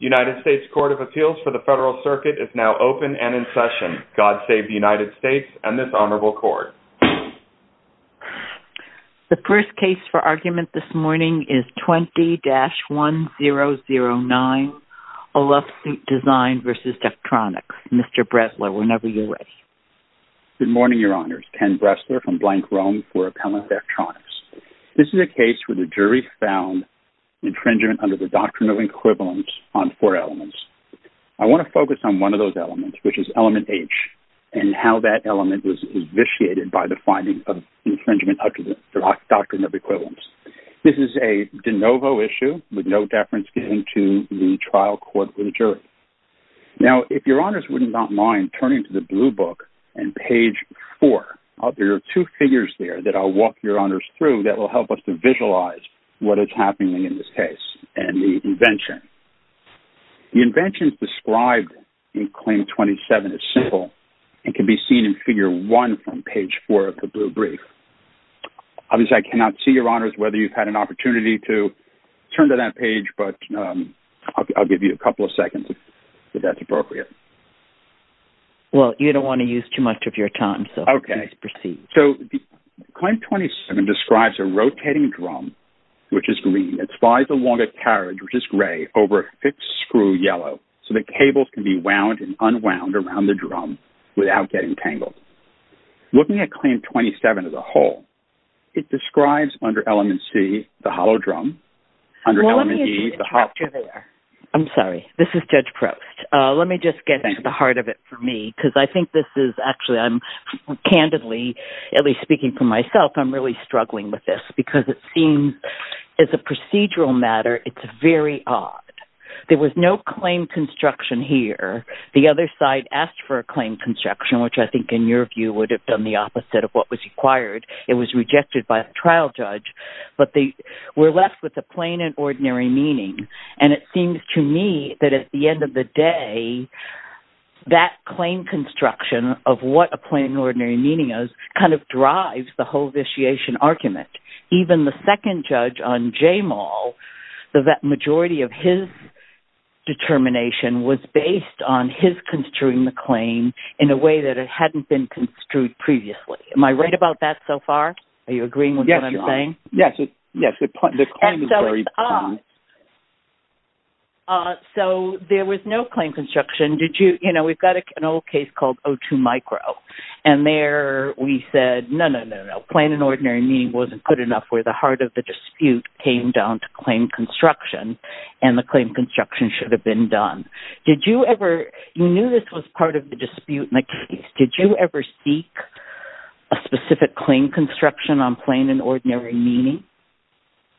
United States Court of Appeals for the Federal Circuit is now open and in session. God Save the United States and this Honorable Court. The first case for argument this morning is 20-1009, A Love Soot Design v. Daktronics. Mr. Bressler, whenever you're ready. Good morning, Your Honors. Ken Bressler from Blank Roam for Appellant Daktronics. This is a case where the jury found infringement under the Doctrine of Equivalence on four elements. I want to focus on one of those elements, which is element H, and how that element was vitiated by the finding of infringement under the Doctrine of Equivalence. This is a de novo issue with no deference given to the trial court or the jury. Now, if Your Honors would not mind turning to the blue book and page 4. There are two figures there that I'll walk Your Honors through that will help us to visualize what is happening in this case and the invention. The invention is described in Claim 27 as simple and can be seen in figure 1 from page 4 of the blue brief. Obviously, I cannot see, Your Honors, whether you've had an opportunity to turn to that page, but I'll give you a couple of seconds if that's appropriate. Well, you don't want to use too much of your time, so please proceed. Okay. So, Claim 27 describes a rotating drum, which is green, that flies along a carriage, which is gray, over a fixed screw, yellow, so the cables can be wound and unwound around the drum without getting tangled. Looking at Claim 27 as a whole, it describes under element C, the hollow drum, under element E, the hollow… Well, let me interrupt you there. I'm sorry. This is Judge Proust. Let me just get to the heart of it for me because I think this is actually, candidly, at least speaking for myself, I'm really struggling with this because it seems, as a procedural matter, it's very odd. There was no claim construction here. The other side asked for a claim construction, which I think, in your view, would have done the opposite of what was required. It was rejected by a trial judge, but they were left with a plain and ordinary meaning. And it seems to me that, at the end of the day, that claim construction of what a plain and ordinary meaning is kind of drives the whole vitiation argument. Even the second judge on J-Mall, the majority of his determination was based on his construing the claim in a way that it hadn't been construed previously. Am I right about that so far? Are you agreeing with what I'm saying? Yes. Yes. The claim is very plain. So there was no claim construction. We've got an old case called O2 Micro, and there we said, no, no, no, no. Plain and ordinary meaning wasn't good enough where the heart of the dispute came down to claim construction, and the claim construction should have been done. You knew this was part of the dispute in the case. Did you ever seek a specific claim construction on plain and ordinary meaning?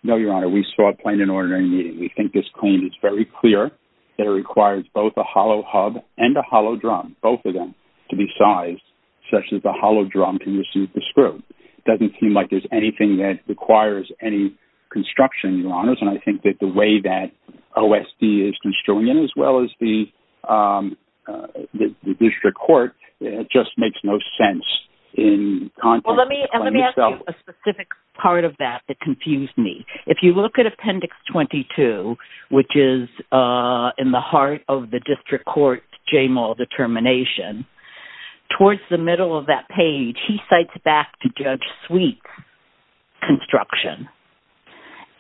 No, Your Honor. We sought plain and ordinary meaning. We think this claim is very clear that it requires both a hollow hub and a hollow drum, both of them, to be sized such that the hollow drum can receive the screw. It doesn't seem like there's anything that requires any construction, Your Honors. And I think that the way that OSD is construing it, as well as the district court, it just makes no sense in context. Well, let me ask you a specific part of that that confused me. If you look at Appendix 22, which is in the heart of the district court Jamal determination, towards the middle of that page, he cites back to Judge Sweet construction.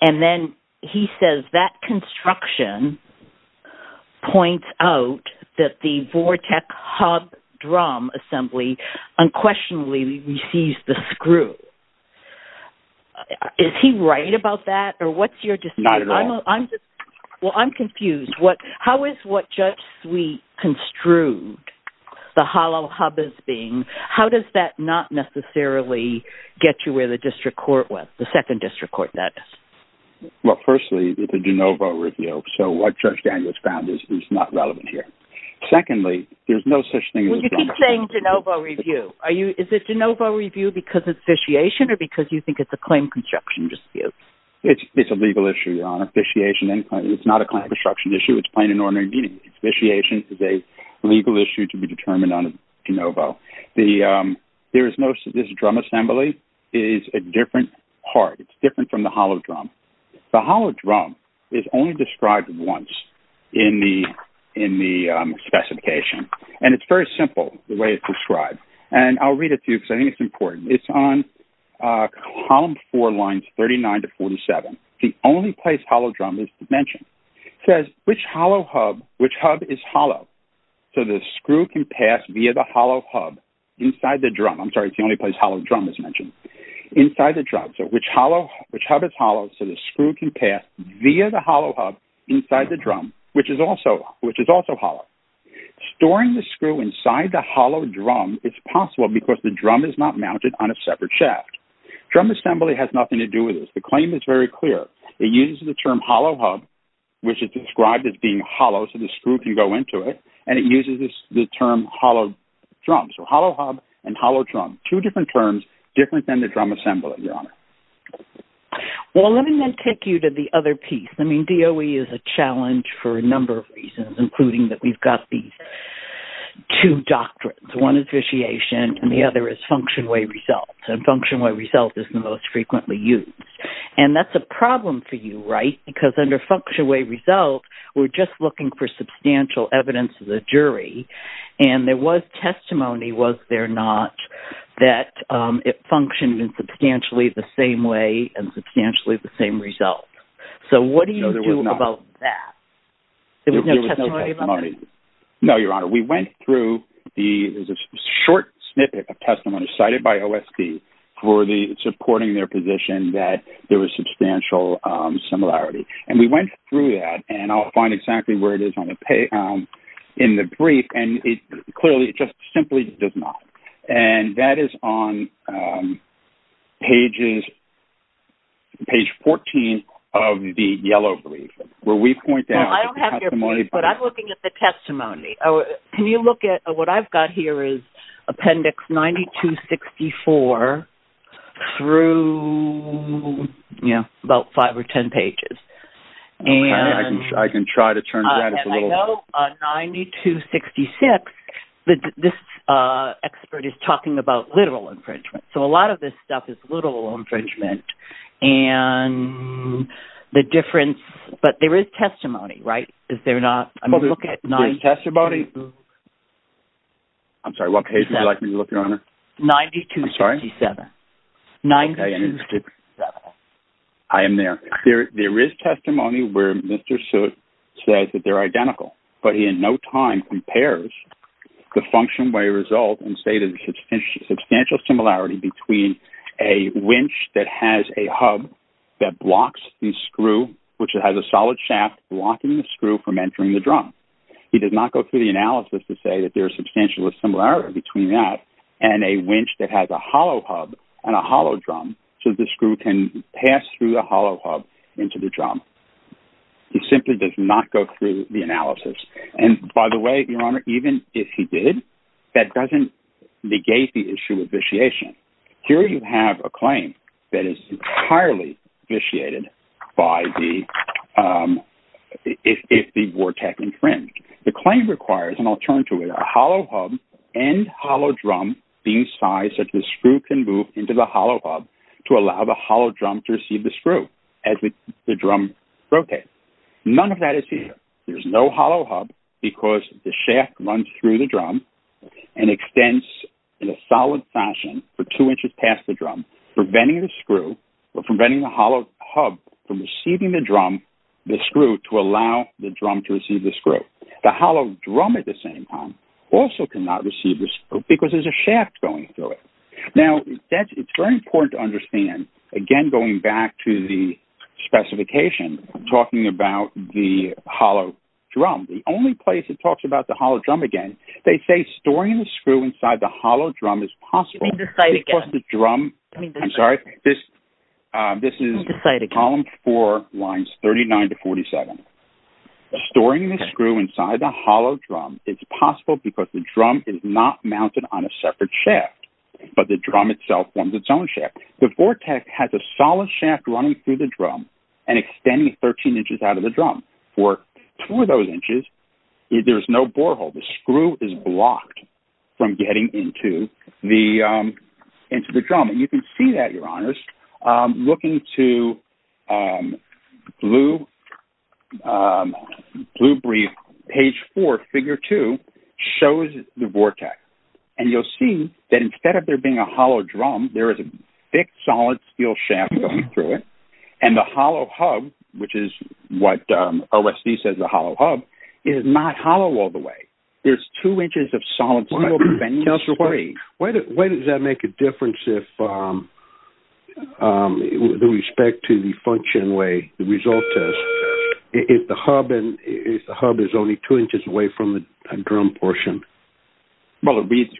And then he says that construction points out that the Vortech hub drum assembly unquestionably receives the screw. Is he right about that, or what's your decision? Not at all. Well, I'm confused. How is what Judge Sweet construed, the hollow hub as being, how does that not necessarily get you where the district court was, the second district court, that is? Well, firstly, it's a de novo review, so what Judge Daniels found is not relevant here. Secondly, there's no such thing as a de novo review. Well, you keep saying de novo review. Is it de novo review because it's vitiation or because you think it's a claim construction dispute? It's a legal issue, Your Honor. Vitiation, it's not a claim construction issue. It's plain and ordinary meeting. Vitiation is a legal issue to be determined on de novo. There is no, this drum assembly is a different part. It's different from the hollow drum. The hollow drum is only described once in the specification, and it's very simple the way it's described. And I'll read it to you because I think it's important. It's on Column 4, Lines 39 to 47. The only place hollow drum is mentioned. It says, which hub is hollow so the screw can pass via the hollow hub inside the drum? I'm sorry, it's the only place hollow drum is mentioned. Inside the drum, so which hub is hollow so the screw can pass via the hollow hub inside the drum, which is also hollow. Storing the screw inside the hollow drum is possible because the drum is not mounted on a separate shaft. Drum assembly has nothing to do with this. The claim is very clear. It uses the term hollow hub, which is described as being hollow so the screw can go into it, and it uses the term hollow drum, so hollow hub and hollow drum. Two different terms, different than the drum assembly, Your Honor. Well, let me then take you to the other piece. I mean, DOE is a challenge for a number of reasons, including that we've got these two doctrines. One is vitiation, and the other is function way result. And function way result is the most frequently used. And that's a problem for you, right, because under function way result, we're just looking for substantial evidence of the jury, and there was testimony, was there not, that it functioned in substantially the same way and substantially the same result. So what do you do about that? No, there was not. There was no testimony about that? There was no testimony. No, Your Honor. We went through the short snippet of testimony cited by OSD for supporting their position that there was substantial similarity. And we went through that, and I'll find exactly where it is in the brief, and clearly it just simply does not. And that is on pages 14 of the yellow brief, where we point out the testimony. Well, I don't have your brief, but I'm looking at the testimony. Can you look at what I've got here is appendix 9264 through, you know, about five or ten pages. I can try to turn that. And I know on 9266, this expert is talking about literal infringement. So a lot of this stuff is literal infringement, and the difference, but there is testimony, right? Is there not? Well, there's testimony. I'm sorry, what page would you like me to look, Your Honor? 9267. I'm sorry? 9267. I am there. There is testimony where Mr. Soot says that they're identical, but he in no time compares the function by result and say that there's substantial similarity between a winch that has a hub that blocks the screw, which has a solid shaft blocking the screw from entering the drum. He did not go through the analysis to say that there's substantial similarity between that and a winch that has a hollow hub and a hollow drum so the screw can pass through the hollow hub into the drum. He simply does not go through the analysis. And, by the way, Your Honor, even if he did, that doesn't negate the issue of vitiation. Here you have a claim that is entirely vitiated if the Vortec infringed. The claim requires, and I'll turn to it, a hollow hub and hollow drum being sized such that the screw can move into the hollow hub to allow the hollow drum to receive the screw as the drum rotates. None of that is here. There's no hollow hub because the shaft runs through the drum and extends in a solid fashion for two inches past the drum, preventing the screw or preventing the hollow hub from receiving the drum, the screw, to allow the drum to receive the screw. The hollow drum, at the same time, also cannot receive the screw because there's a shaft going through it. Now, it's very important to understand, again, going back to the specification, talking about the hollow drum. The only place it talks about the hollow drum again, they say storing the screw inside the hollow drum is possible because the drum, I'm sorry, this is column four, lines 39 to 47. Storing the screw inside the hollow drum is possible because the drum is not mounted on a separate shaft, but the drum itself forms its own shaft. The Vortec has a solid shaft running through the drum and extending 13 inches out of the drum. Through those inches, there's no borehole. The screw is blocked from getting into the drum. You can see that, Your Honors. Looking to Blue Breeze, page four, figure two, shows the Vortec. You'll see that instead of there being a hollow drum, there is a thick, solid steel shaft going through it. The hollow hub, which is what OSD says is a hollow hub, is not hollow all the way. There's two inches of solid steel bending free. Counselor, when does that make a difference with respect to the function way, the result test, if the hub is only two inches away from the drum portion? Well, it reads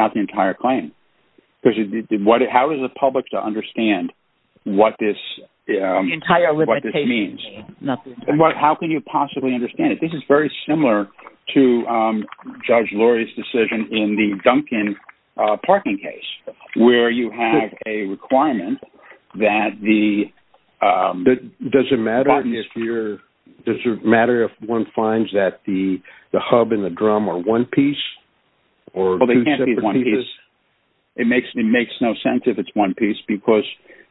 out the entire claim. How is the public to understand what this means? How can you possibly understand it? This is very similar to Judge Lurie's decision in the Duncan parking case, where you have a requirement that the parking— Does it matter if one finds that the hub and the drum are one piece? Well, they can't be one piece. It makes no sense if it's one piece, because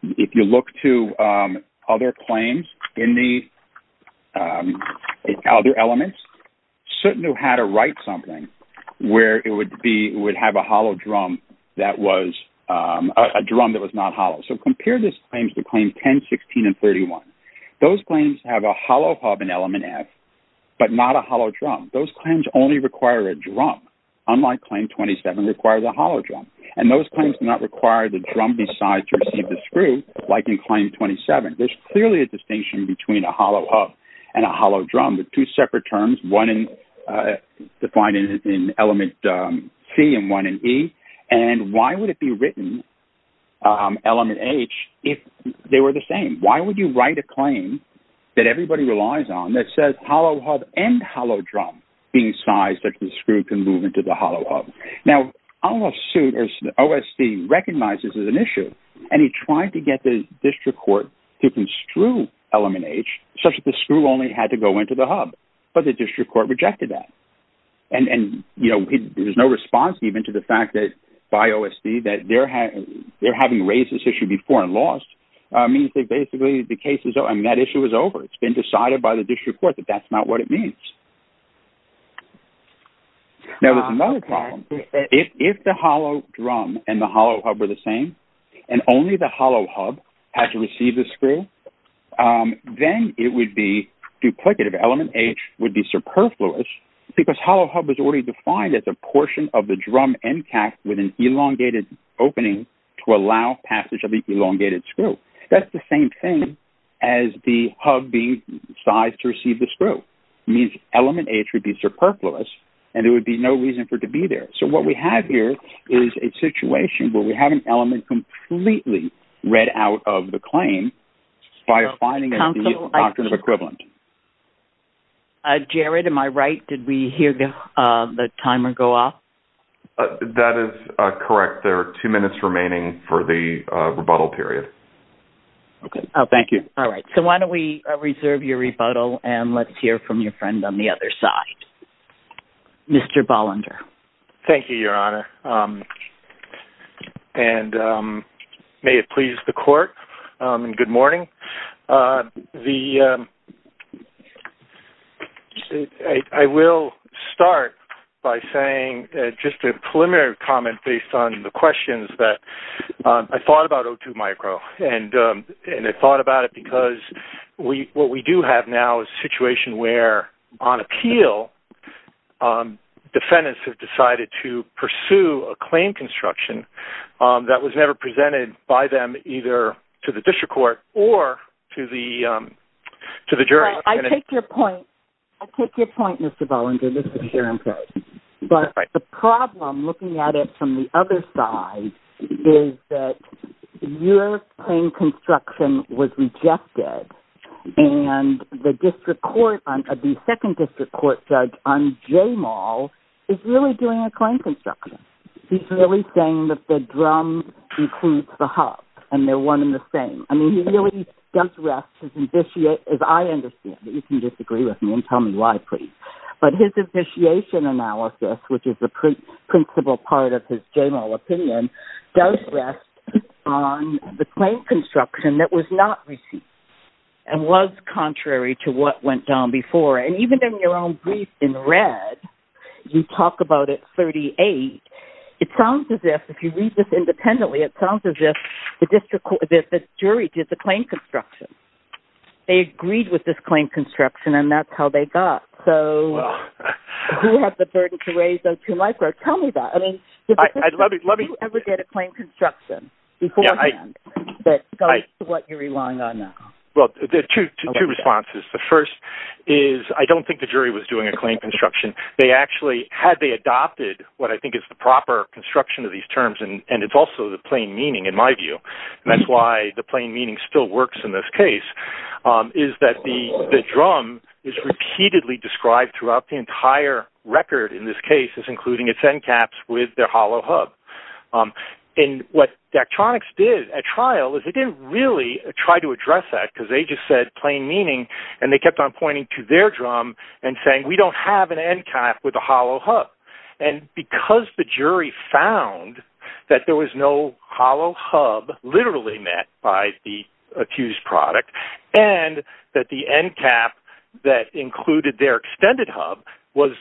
if you look to other claims in the other elements, Sutton knew how to write something where it would have a hollow drum that was not hollow. So compare this claim to claims 10, 16, and 31. Those claims have a hollow hub in element F, but not a hollow drum. Those claims only require a drum, unlike claim 27 requires a hollow drum. And those claims do not require the drum be sized to receive the screw like in claim 27. There's clearly a distinction between a hollow hub and a hollow drum with two separate terms, one defined in element C and one in E. And why would it be written element H if they were the same? Why would you write a claim that everybody relies on that says hollow hub and hollow drum being sized such that the screw can move into the hollow hub? Now, OSD recognizes this is an issue, and he tried to get the district court to construe element H such that the screw only had to go into the hub, but the district court rejected that. And there's no response even to the fact that by OSD that they're having raised this issue before means that basically the case is over. I mean, that issue is over. It's been decided by the district court that that's not what it means. Now, there's another problem. If the hollow drum and the hollow hub were the same and only the hollow hub had to receive the screw, then it would be duplicative. Element H would be superfluous because hollow hub is already defined as a portion of the drum end cap with an elongated opening to allow passage of the elongated screw. That's the same thing as the hub being sized to receive the screw. It means element H would be superfluous, and there would be no reason for it to be there. So what we have here is a situation where we have an element completely read out of the claim Jared, am I right? Did we hear the timer go off? That is correct. There are two minutes remaining for the rebuttal period. Okay. Thank you. All right. So why don't we reserve your rebuttal, and let's hear from your friend on the other side, Mr. Ballender. Thank you, Your Honor, and may it please the court, and good morning. I will start by saying just a preliminary comment based on the questions that I thought about O2 micro, and I thought about it because what we do have now is a situation where, on appeal, defendants have decided to pursue a claim construction that was never presented by them either to the district court or to the jury. All right. I take your point. I take your point, Mr. Ballender. This is Sharon Perry. But the problem, looking at it from the other side, is that your claim construction was rejected, and the district court, the second district court judge on J Maul, is really doing a claim construction. He's really saying that the drum includes the hub, and they're one and the same. I mean, he really does rest, as I understand, but you can disagree with me and tell me why, please. But his initiation analysis, which is the principal part of his general opinion, does rest on the claim construction that was not received and was contrary to what went down before. And even in your own brief in red, you talk about it 38. It sounds as if, if you read this independently, it sounds as if the jury did the claim construction. They agreed with this claim construction, and that's how they got. So who has the burden to raise those two micro? Tell me that. I mean, did the district court ever get a claim construction beforehand that goes to what you're relying on now? Well, there are two responses. The first is I don't think the jury was doing a claim construction. They actually, had they adopted what I think is the proper construction of these terms, and it's also the plain meaning in my view, and that's why the plain meaning still works in this case, is that the drum is repeatedly described throughout the entire record in this case, including its end caps with their hollow hub. And what Daktronics did at trial is they didn't really try to address that because they just said plain meaning, and they kept on pointing to their drum and saying we don't have an end cap with a hollow hub. And because the jury found that there was no hollow hub literally met by the accused product and that the end cap that included their extended hub was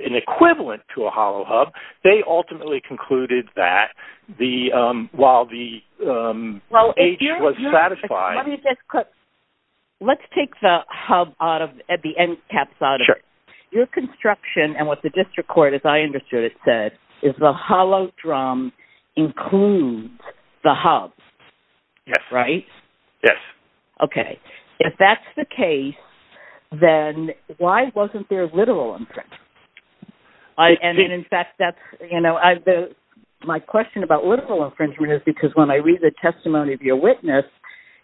an equivalent to a hollow hub, they ultimately concluded that while the age was satisfied. Let me just, let's take the hub out of, the end caps out of it. Your construction and what the district court, as I understood it, said is the hollow drum includes the hub. Yes. Right? Yes. Okay. If that's the case, then why wasn't there literal infringement? And in fact, that's, you know, my question about literal infringement is because when I read the testimony of your witness,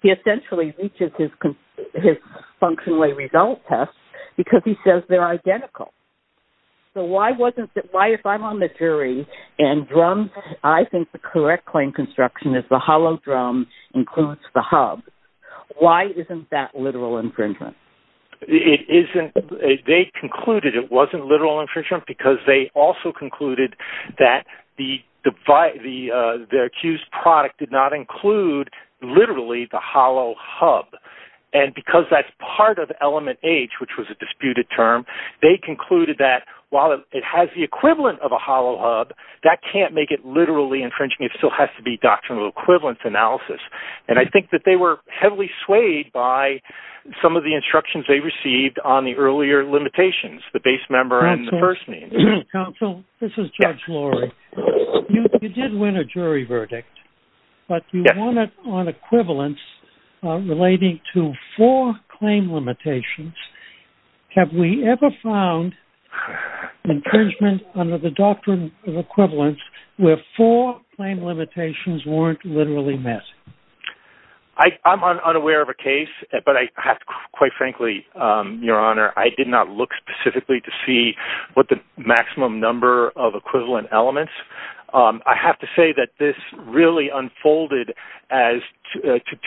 he essentially reaches his functionally result test because he says they're identical. So why wasn't, why if I'm on the jury and drum, I think the correct claim construction is the hollow drum includes the hub. Why isn't that literal infringement? It isn't. They concluded it wasn't literal infringement because they also concluded that the, the accused product did not include literally the hollow hub. And because that's part of element H, which was a disputed term, they concluded that while it has the equivalent of a hollow hub, that can't make it literally infringing. It still has to be doctrinal equivalence analysis. And I think that they were heavily swayed by some of the instructions they received on the earlier limitations, the base member and the first name. Counsel, this is judge Lori. You did win a jury verdict, but you won it on equivalence relating to four claim limitations. Have we ever found infringement under the doctrine of equivalence where four claim limitations weren't literally met? I'm unaware of a case, but I have to, quite frankly, Your Honor, I did not look specifically to see what the maximum number of equivalent elements. I have to say that this really unfolded as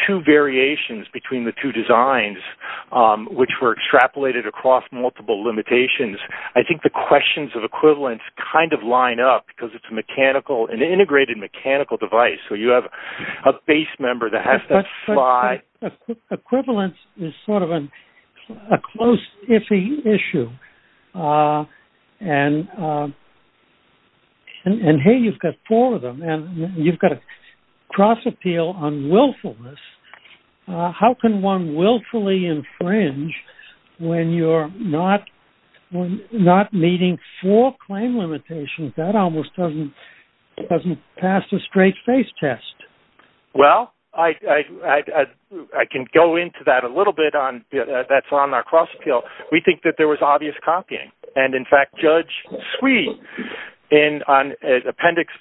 two variations between the two designs, which were extrapolated across multiple limitations. I think the questions of equivalence kind of line up because it's a mechanical, an integrated mechanical device. So you have a base member that has to fly. Equivalence is sort of a close, iffy issue. And, hey, you've got four of them, and you've got to cross-appeal on willfulness. How can one willfully infringe when you're not meeting four claim limitations? That almost doesn't pass the straight-face test. Well, I can go into that a little bit. That's on our cross-appeal. We think that there was obvious copying. And, in fact, Judge Swee, on Appendix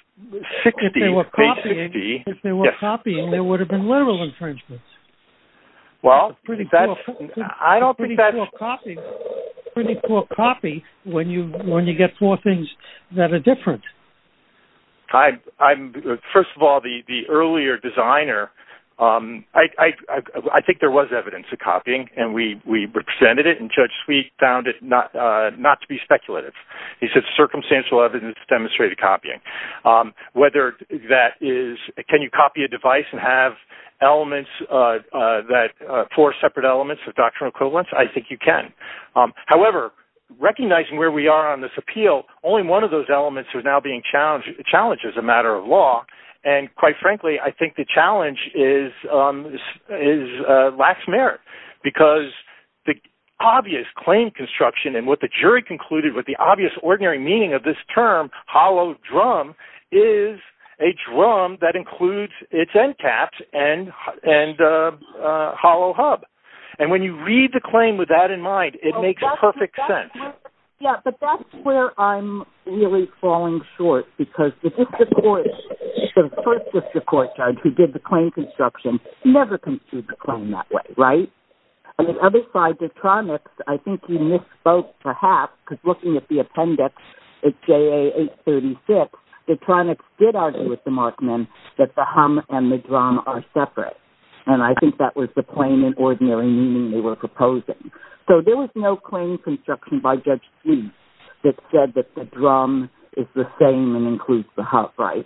60, page 60. If they were copying, there would have been literal infringements. Pretty poor copy when you get four things that are different. First of all, the earlier designer, I think there was evidence of copying, and we presented it, and Judge Swee found it not to be speculative. He said circumstantial evidence demonstrated copying. Whether that is can you copy a device and have four separate elements of doctrinal equivalence, I think you can. However, recognizing where we are on this appeal, only one of those elements is now being challenged as a matter of law. And, quite frankly, I think the challenge lacks merit because the obvious claim construction and what the jury concluded with the obvious ordinary meaning of this term hollow drum is a drum that includes its end caps and hollow hub. And when you read the claim with that in mind, it makes perfect sense. Yeah, but that's where I'm really falling short because the District Court, the first District Court judge who did the claim construction, never construed the claim that way, right? On the other side, Detronix, I think you misspoke perhaps because looking at the appendix, it's JA 836, Detronix did argue with the Markman that the hum and the drum are separate, and I think that was the plain and ordinary meaning they were proposing. So there was no claim construction by Judge Swee that said that the drum is the same and includes the hub, right?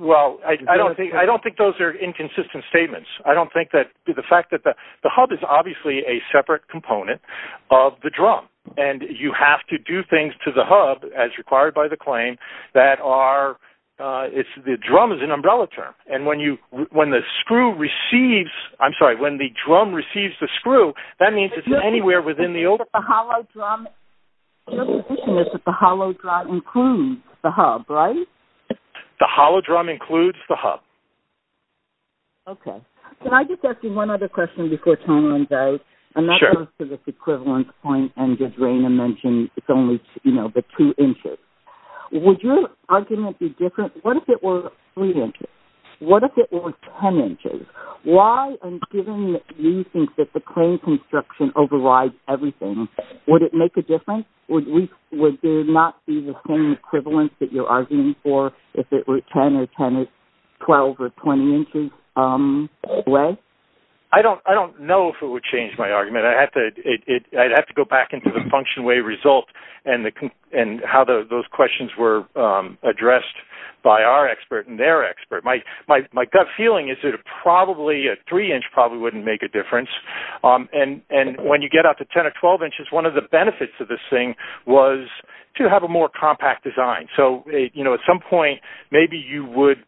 Well, I don't think those are inconsistent statements. I don't think that the fact that the hub is obviously a separate component of the drum, and you have to do things to the hub, as required by the claim, that are, the drum is an umbrella term. And when the screw receives, I'm sorry, when the drum receives the screw, that means it's anywhere within the old. But the hollow drum, your position is that the hollow drum includes the hub, right? The hollow drum includes the hub. Okay. Can I just ask you one other question before time runs out? Sure. And that goes to this equivalence point, and as Raina mentioned, it's only, you know, the two inches. Would your argument be different? What if it were three inches? What if it were 10 inches? Why, and given that we think that the claim construction overrides everything, would it make a difference? Would there not be the same equivalence that you're arguing for if it were 10 or 10 inches, 12 or 20 inches away? I don't know if it would change my argument. I'd have to go back into the function way result and how those questions were addressed by our expert and their expert. My gut feeling is that probably a three inch probably wouldn't make a difference. And when you get out to 10 or 12 inches, one of the benefits of this thing was to have a more compact design. So, you know, at some point maybe you would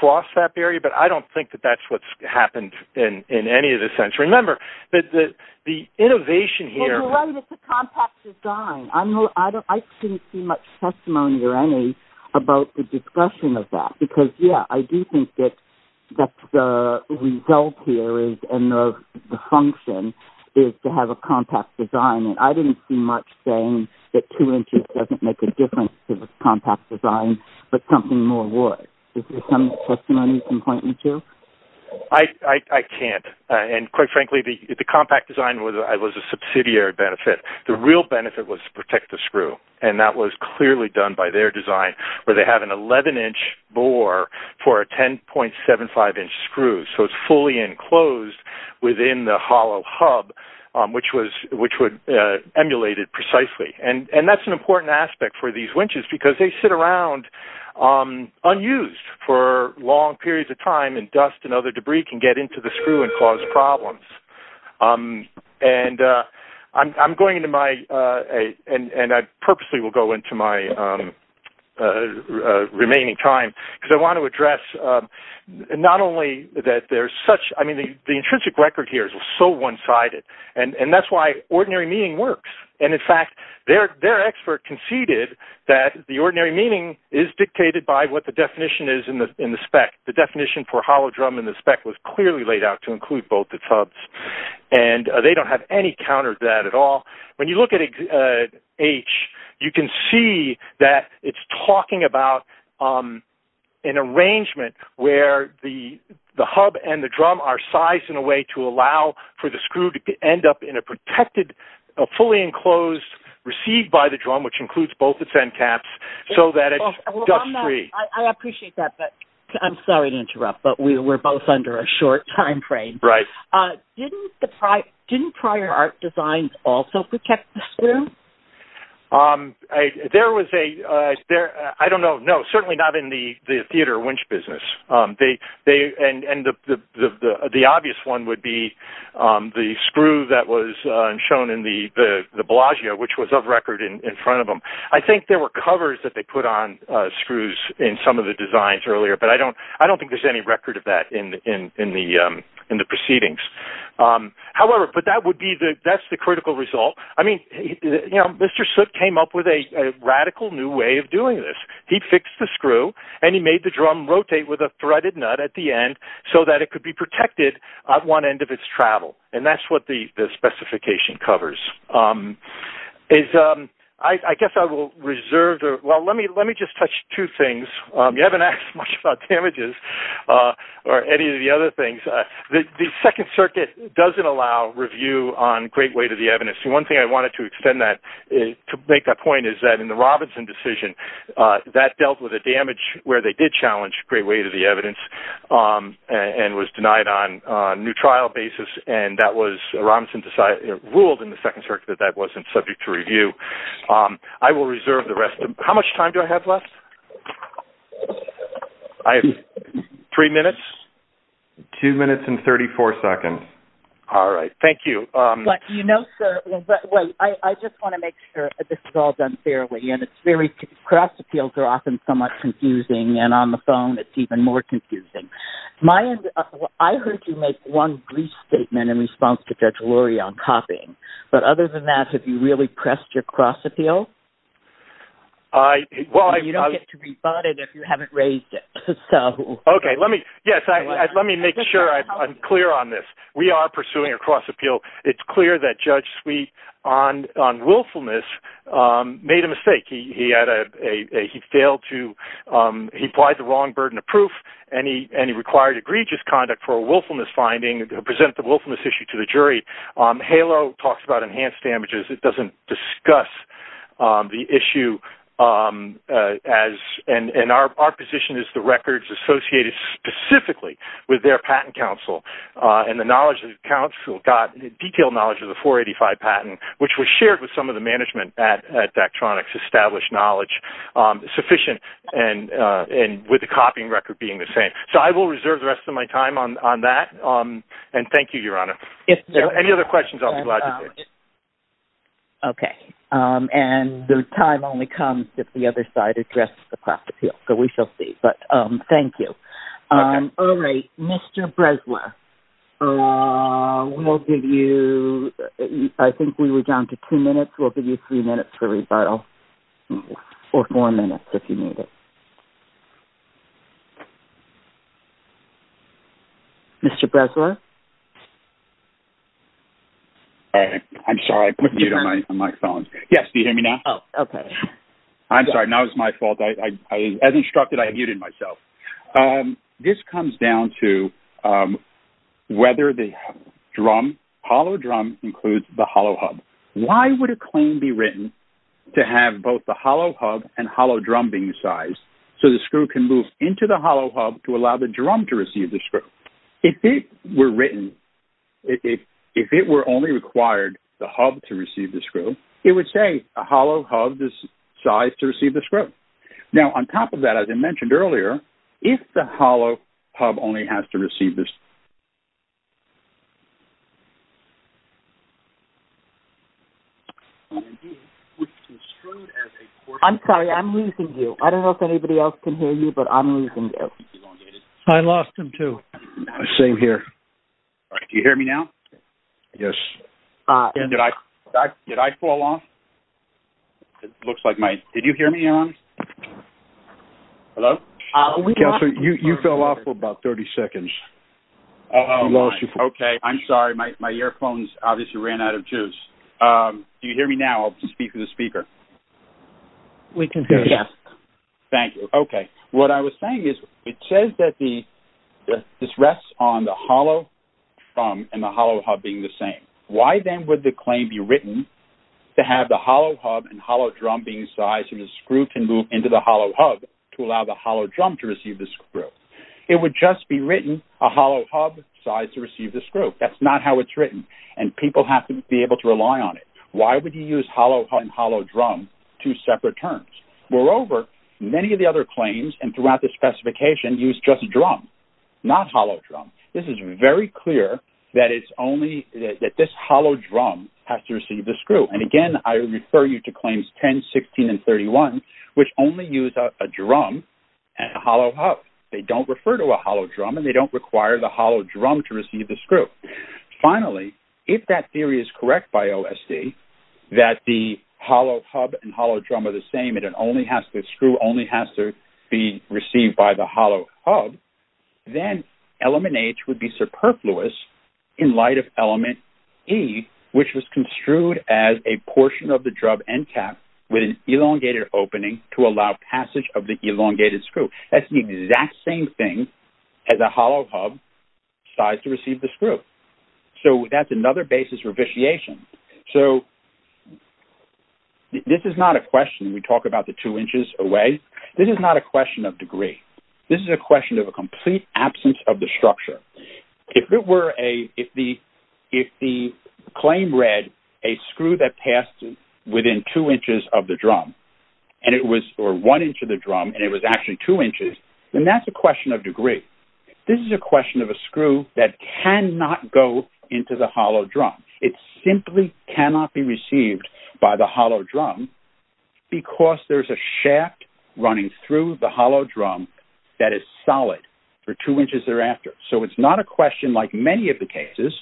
cross that barrier, but I don't think that that's what's happened in any of this sense. Remember, the innovation here – Well, you're right, it's a compact design. I shouldn't see much testimony or any about the discussion of that because, yeah, I do think that the result here and the function is to have a compact design. And I didn't see much saying that two inches doesn't make a difference to the compact design, but something more would. Is there some testimony you can point me to? I can't. And quite frankly, the compact design was a subsidiary benefit. The real benefit was to protect the screw, and that was clearly done by their design where they have an 11-inch bore for a 10.75-inch screw, so it's fully enclosed within the hollow hub, which would emulate it precisely. And that's an important aspect for these winches because they sit around unused for long periods of time, and dust and other debris can get into the screw and cause problems. And I'm going into my – and I purposely will go into my remaining time because I want to address not only that there's such – I mean, the intrinsic record here is so one-sided, and that's why ordinary meaning works. And, in fact, their expert conceded that the ordinary meaning is dictated by what the definition is in the spec. The definition for hollow drum in the spec was clearly laid out to include both the hubs, and they don't have any counter to that at all. When you look at H, you can see that it's talking about an arrangement where the hub and the drum are sized in a way to allow for the screw to end up in a protected, fully enclosed, received by the drum, which includes both its end caps, so that it's dust-free. Dust-free. I appreciate that, but I'm sorry to interrupt, but we were both under a short timeframe. Right. Didn't prior art designs also protect the screw? There was a – I don't know. No, certainly not in the theater winch business. And the obvious one would be the screw that was shown in the Bellagio, which was of record in front of them. I think there were covers that they put on screws in some of the designs earlier, but I don't think there's any record of that in the proceedings. However, that's the critical result. I mean, you know, Mr. Soot came up with a radical new way of doing this. He fixed the screw, and he made the drum rotate with a threaded nut at the end so that it could be protected at one end of its travel, and that's what the specification covers. I guess I will reserve – well, let me just touch two things. You haven't asked much about damages or any of the other things. The Second Circuit doesn't allow review on great weight of the evidence. And one thing I wanted to extend that, to make that point, is that in the Robinson decision, that dealt with the damage where they did challenge great weight of the evidence and was denied on a new trial basis, and that was – Robinson ruled in the Second Circuit that that wasn't subject to review. I will reserve the rest of – how much time do I have left? I have three minutes? Two minutes and 34 seconds. All right. Thank you. But, you know, sir, I just want to make sure this is all done fairly, and it's very – cross appeals are often somewhat confusing, and on the phone it's even more confusing. I heard you make one brief statement in response to Judge Lurie on copying, but other than that, have you really pressed your cross appeal? Well, I – You don't get to rebut it if you haven't raised it, so – Okay, let me – yes, let me make sure I'm clear on this. We are pursuing a cross appeal. It's clear that Judge Sweet on willfulness made a mistake. He had a – he failed to – he applied the wrong burden of proof, and he required egregious conduct for a willfulness finding to present the willfulness issue to the jury. HALO talks about enhanced damages. It doesn't discuss the issue as – and our position is the records associated specifically with their patent counsel, and the knowledge of the counsel got detailed knowledge of the 485 patent, which was shared with some of the management at Daktronics, established knowledge sufficient, and with the copying record being the same. So I will reserve the rest of my time on that, and thank you, Your Honor. Any other questions, I'll be glad to take. Okay, and the time only comes if the other side addresses the cross appeal, so we shall see, but thank you. All right, Mr. Bresler, we'll give you – I think we were down to two minutes. We'll give you three minutes for rebuttal, or four minutes if you need it. Mr. Bresler? I'm sorry, I put you on my phone. Yes, do you hear me now? Oh, okay. I'm sorry, that was my fault. As instructed, I muted myself. This comes down to whether the hollow drum includes the hollow hub. Why would a claim be written to have both the hollow hub and hollow drum being sized so the screw can move into the hollow hub to allow the drum to receive the screw? If it were written – if it were only required the hub to receive the screw, then it would say a hollow hub is sized to receive the screw. Now, on top of that, as I mentioned earlier, if the hollow hub only has to receive the screw. I'm sorry, I'm losing you. I don't know if anybody else can hear you, but I'm losing you. I lost him too. Same here. Do you hear me now? Yes. Did I fall off? It looks like my – did you hear me? Hello? You fell off for about 30 seconds. Oh, okay. I'm sorry, my earphones obviously ran out of juice. Do you hear me now? I'll speak to the speaker. We can hear you. Yes. Thank you. Okay. What I was saying is it says that this rests on the hollow drum and the hollow hub being the same. Why then would the claim be written to have the hollow hub and hollow drum being sized so the screw can move into the hollow hub to allow the hollow drum to receive the screw? It would just be written a hollow hub sized to receive the screw. That's not how it's written, and people have to be able to rely on it. Why would you use hollow hub and hollow drum, two separate terms? Moreover, many of the other claims and throughout the specification use just drum, not hollow drum. This is very clear that it's only that this hollow drum has to receive the screw. And again, I refer you to claims 10, 16, and 31, which only use a drum and a hollow hub. They don't refer to a hollow drum, and they don't require the hollow drum to receive the screw. Finally, if that theory is correct by OSD that the hollow hub and hollow drum are the same and the screw only has to be received by the hollow hub, then element H would be superfluous in light of element E, which was construed as a portion of the drum end cap with an elongated opening to allow passage of the elongated screw. That's the exact same thing as a hollow hub sized to receive the screw. So that's another basis for vitiation. So this is not a question. We talk about the two inches away. This is not a question of degree. This is a question of a complete absence of the structure. If the claim read a screw that passed within two inches of the drum, or one inch of the drum, and it was actually two inches, then that's a question of degree. This is a question of a screw that cannot go into the hollow drum. It simply cannot be received by the hollow drum because there's a shaft running through the hollow drum that is solid for two inches thereafter. So it's not a question like many of the cases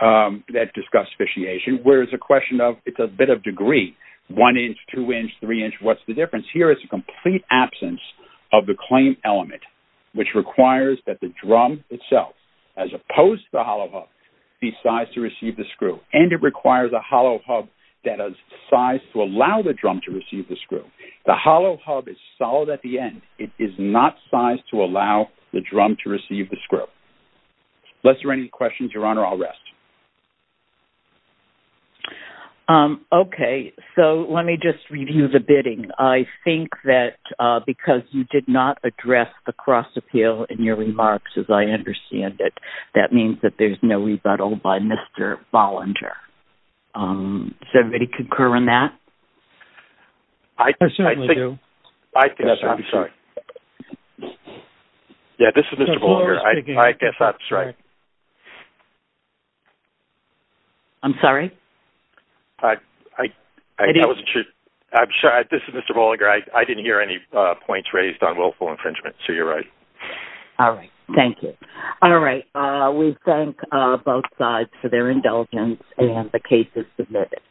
that discuss vitiation, where it's a question of it's a bit of degree. One inch, two inch, three inch, what's the difference? Here it's a complete absence of the claim element, which requires that the drum itself, as opposed to the hollow hub, be sized to receive the screw, and it requires a hollow hub that is sized to allow the drum to receive the screw. The hollow hub is solid at the end. It is not sized to allow the drum to receive the screw. Unless there are any questions, Your Honor, I'll rest. Okay. So let me just review the bidding. I think that because you did not address the cross appeal in your remarks, as I understand it, that means that there's no rebuttal by Mr. Bollinger. Does everybody concur on that? I certainly do. I think so. I'm sorry. Yeah, this is Mr. Bollinger. I guess that's right. I'm sorry? That wasn't true. I'm sorry. This is Mr. Bollinger. I didn't hear any points raised on willful infringement, so you're right. All right. Thank you. All right. We thank both sides for their indulgence and the cases submitted.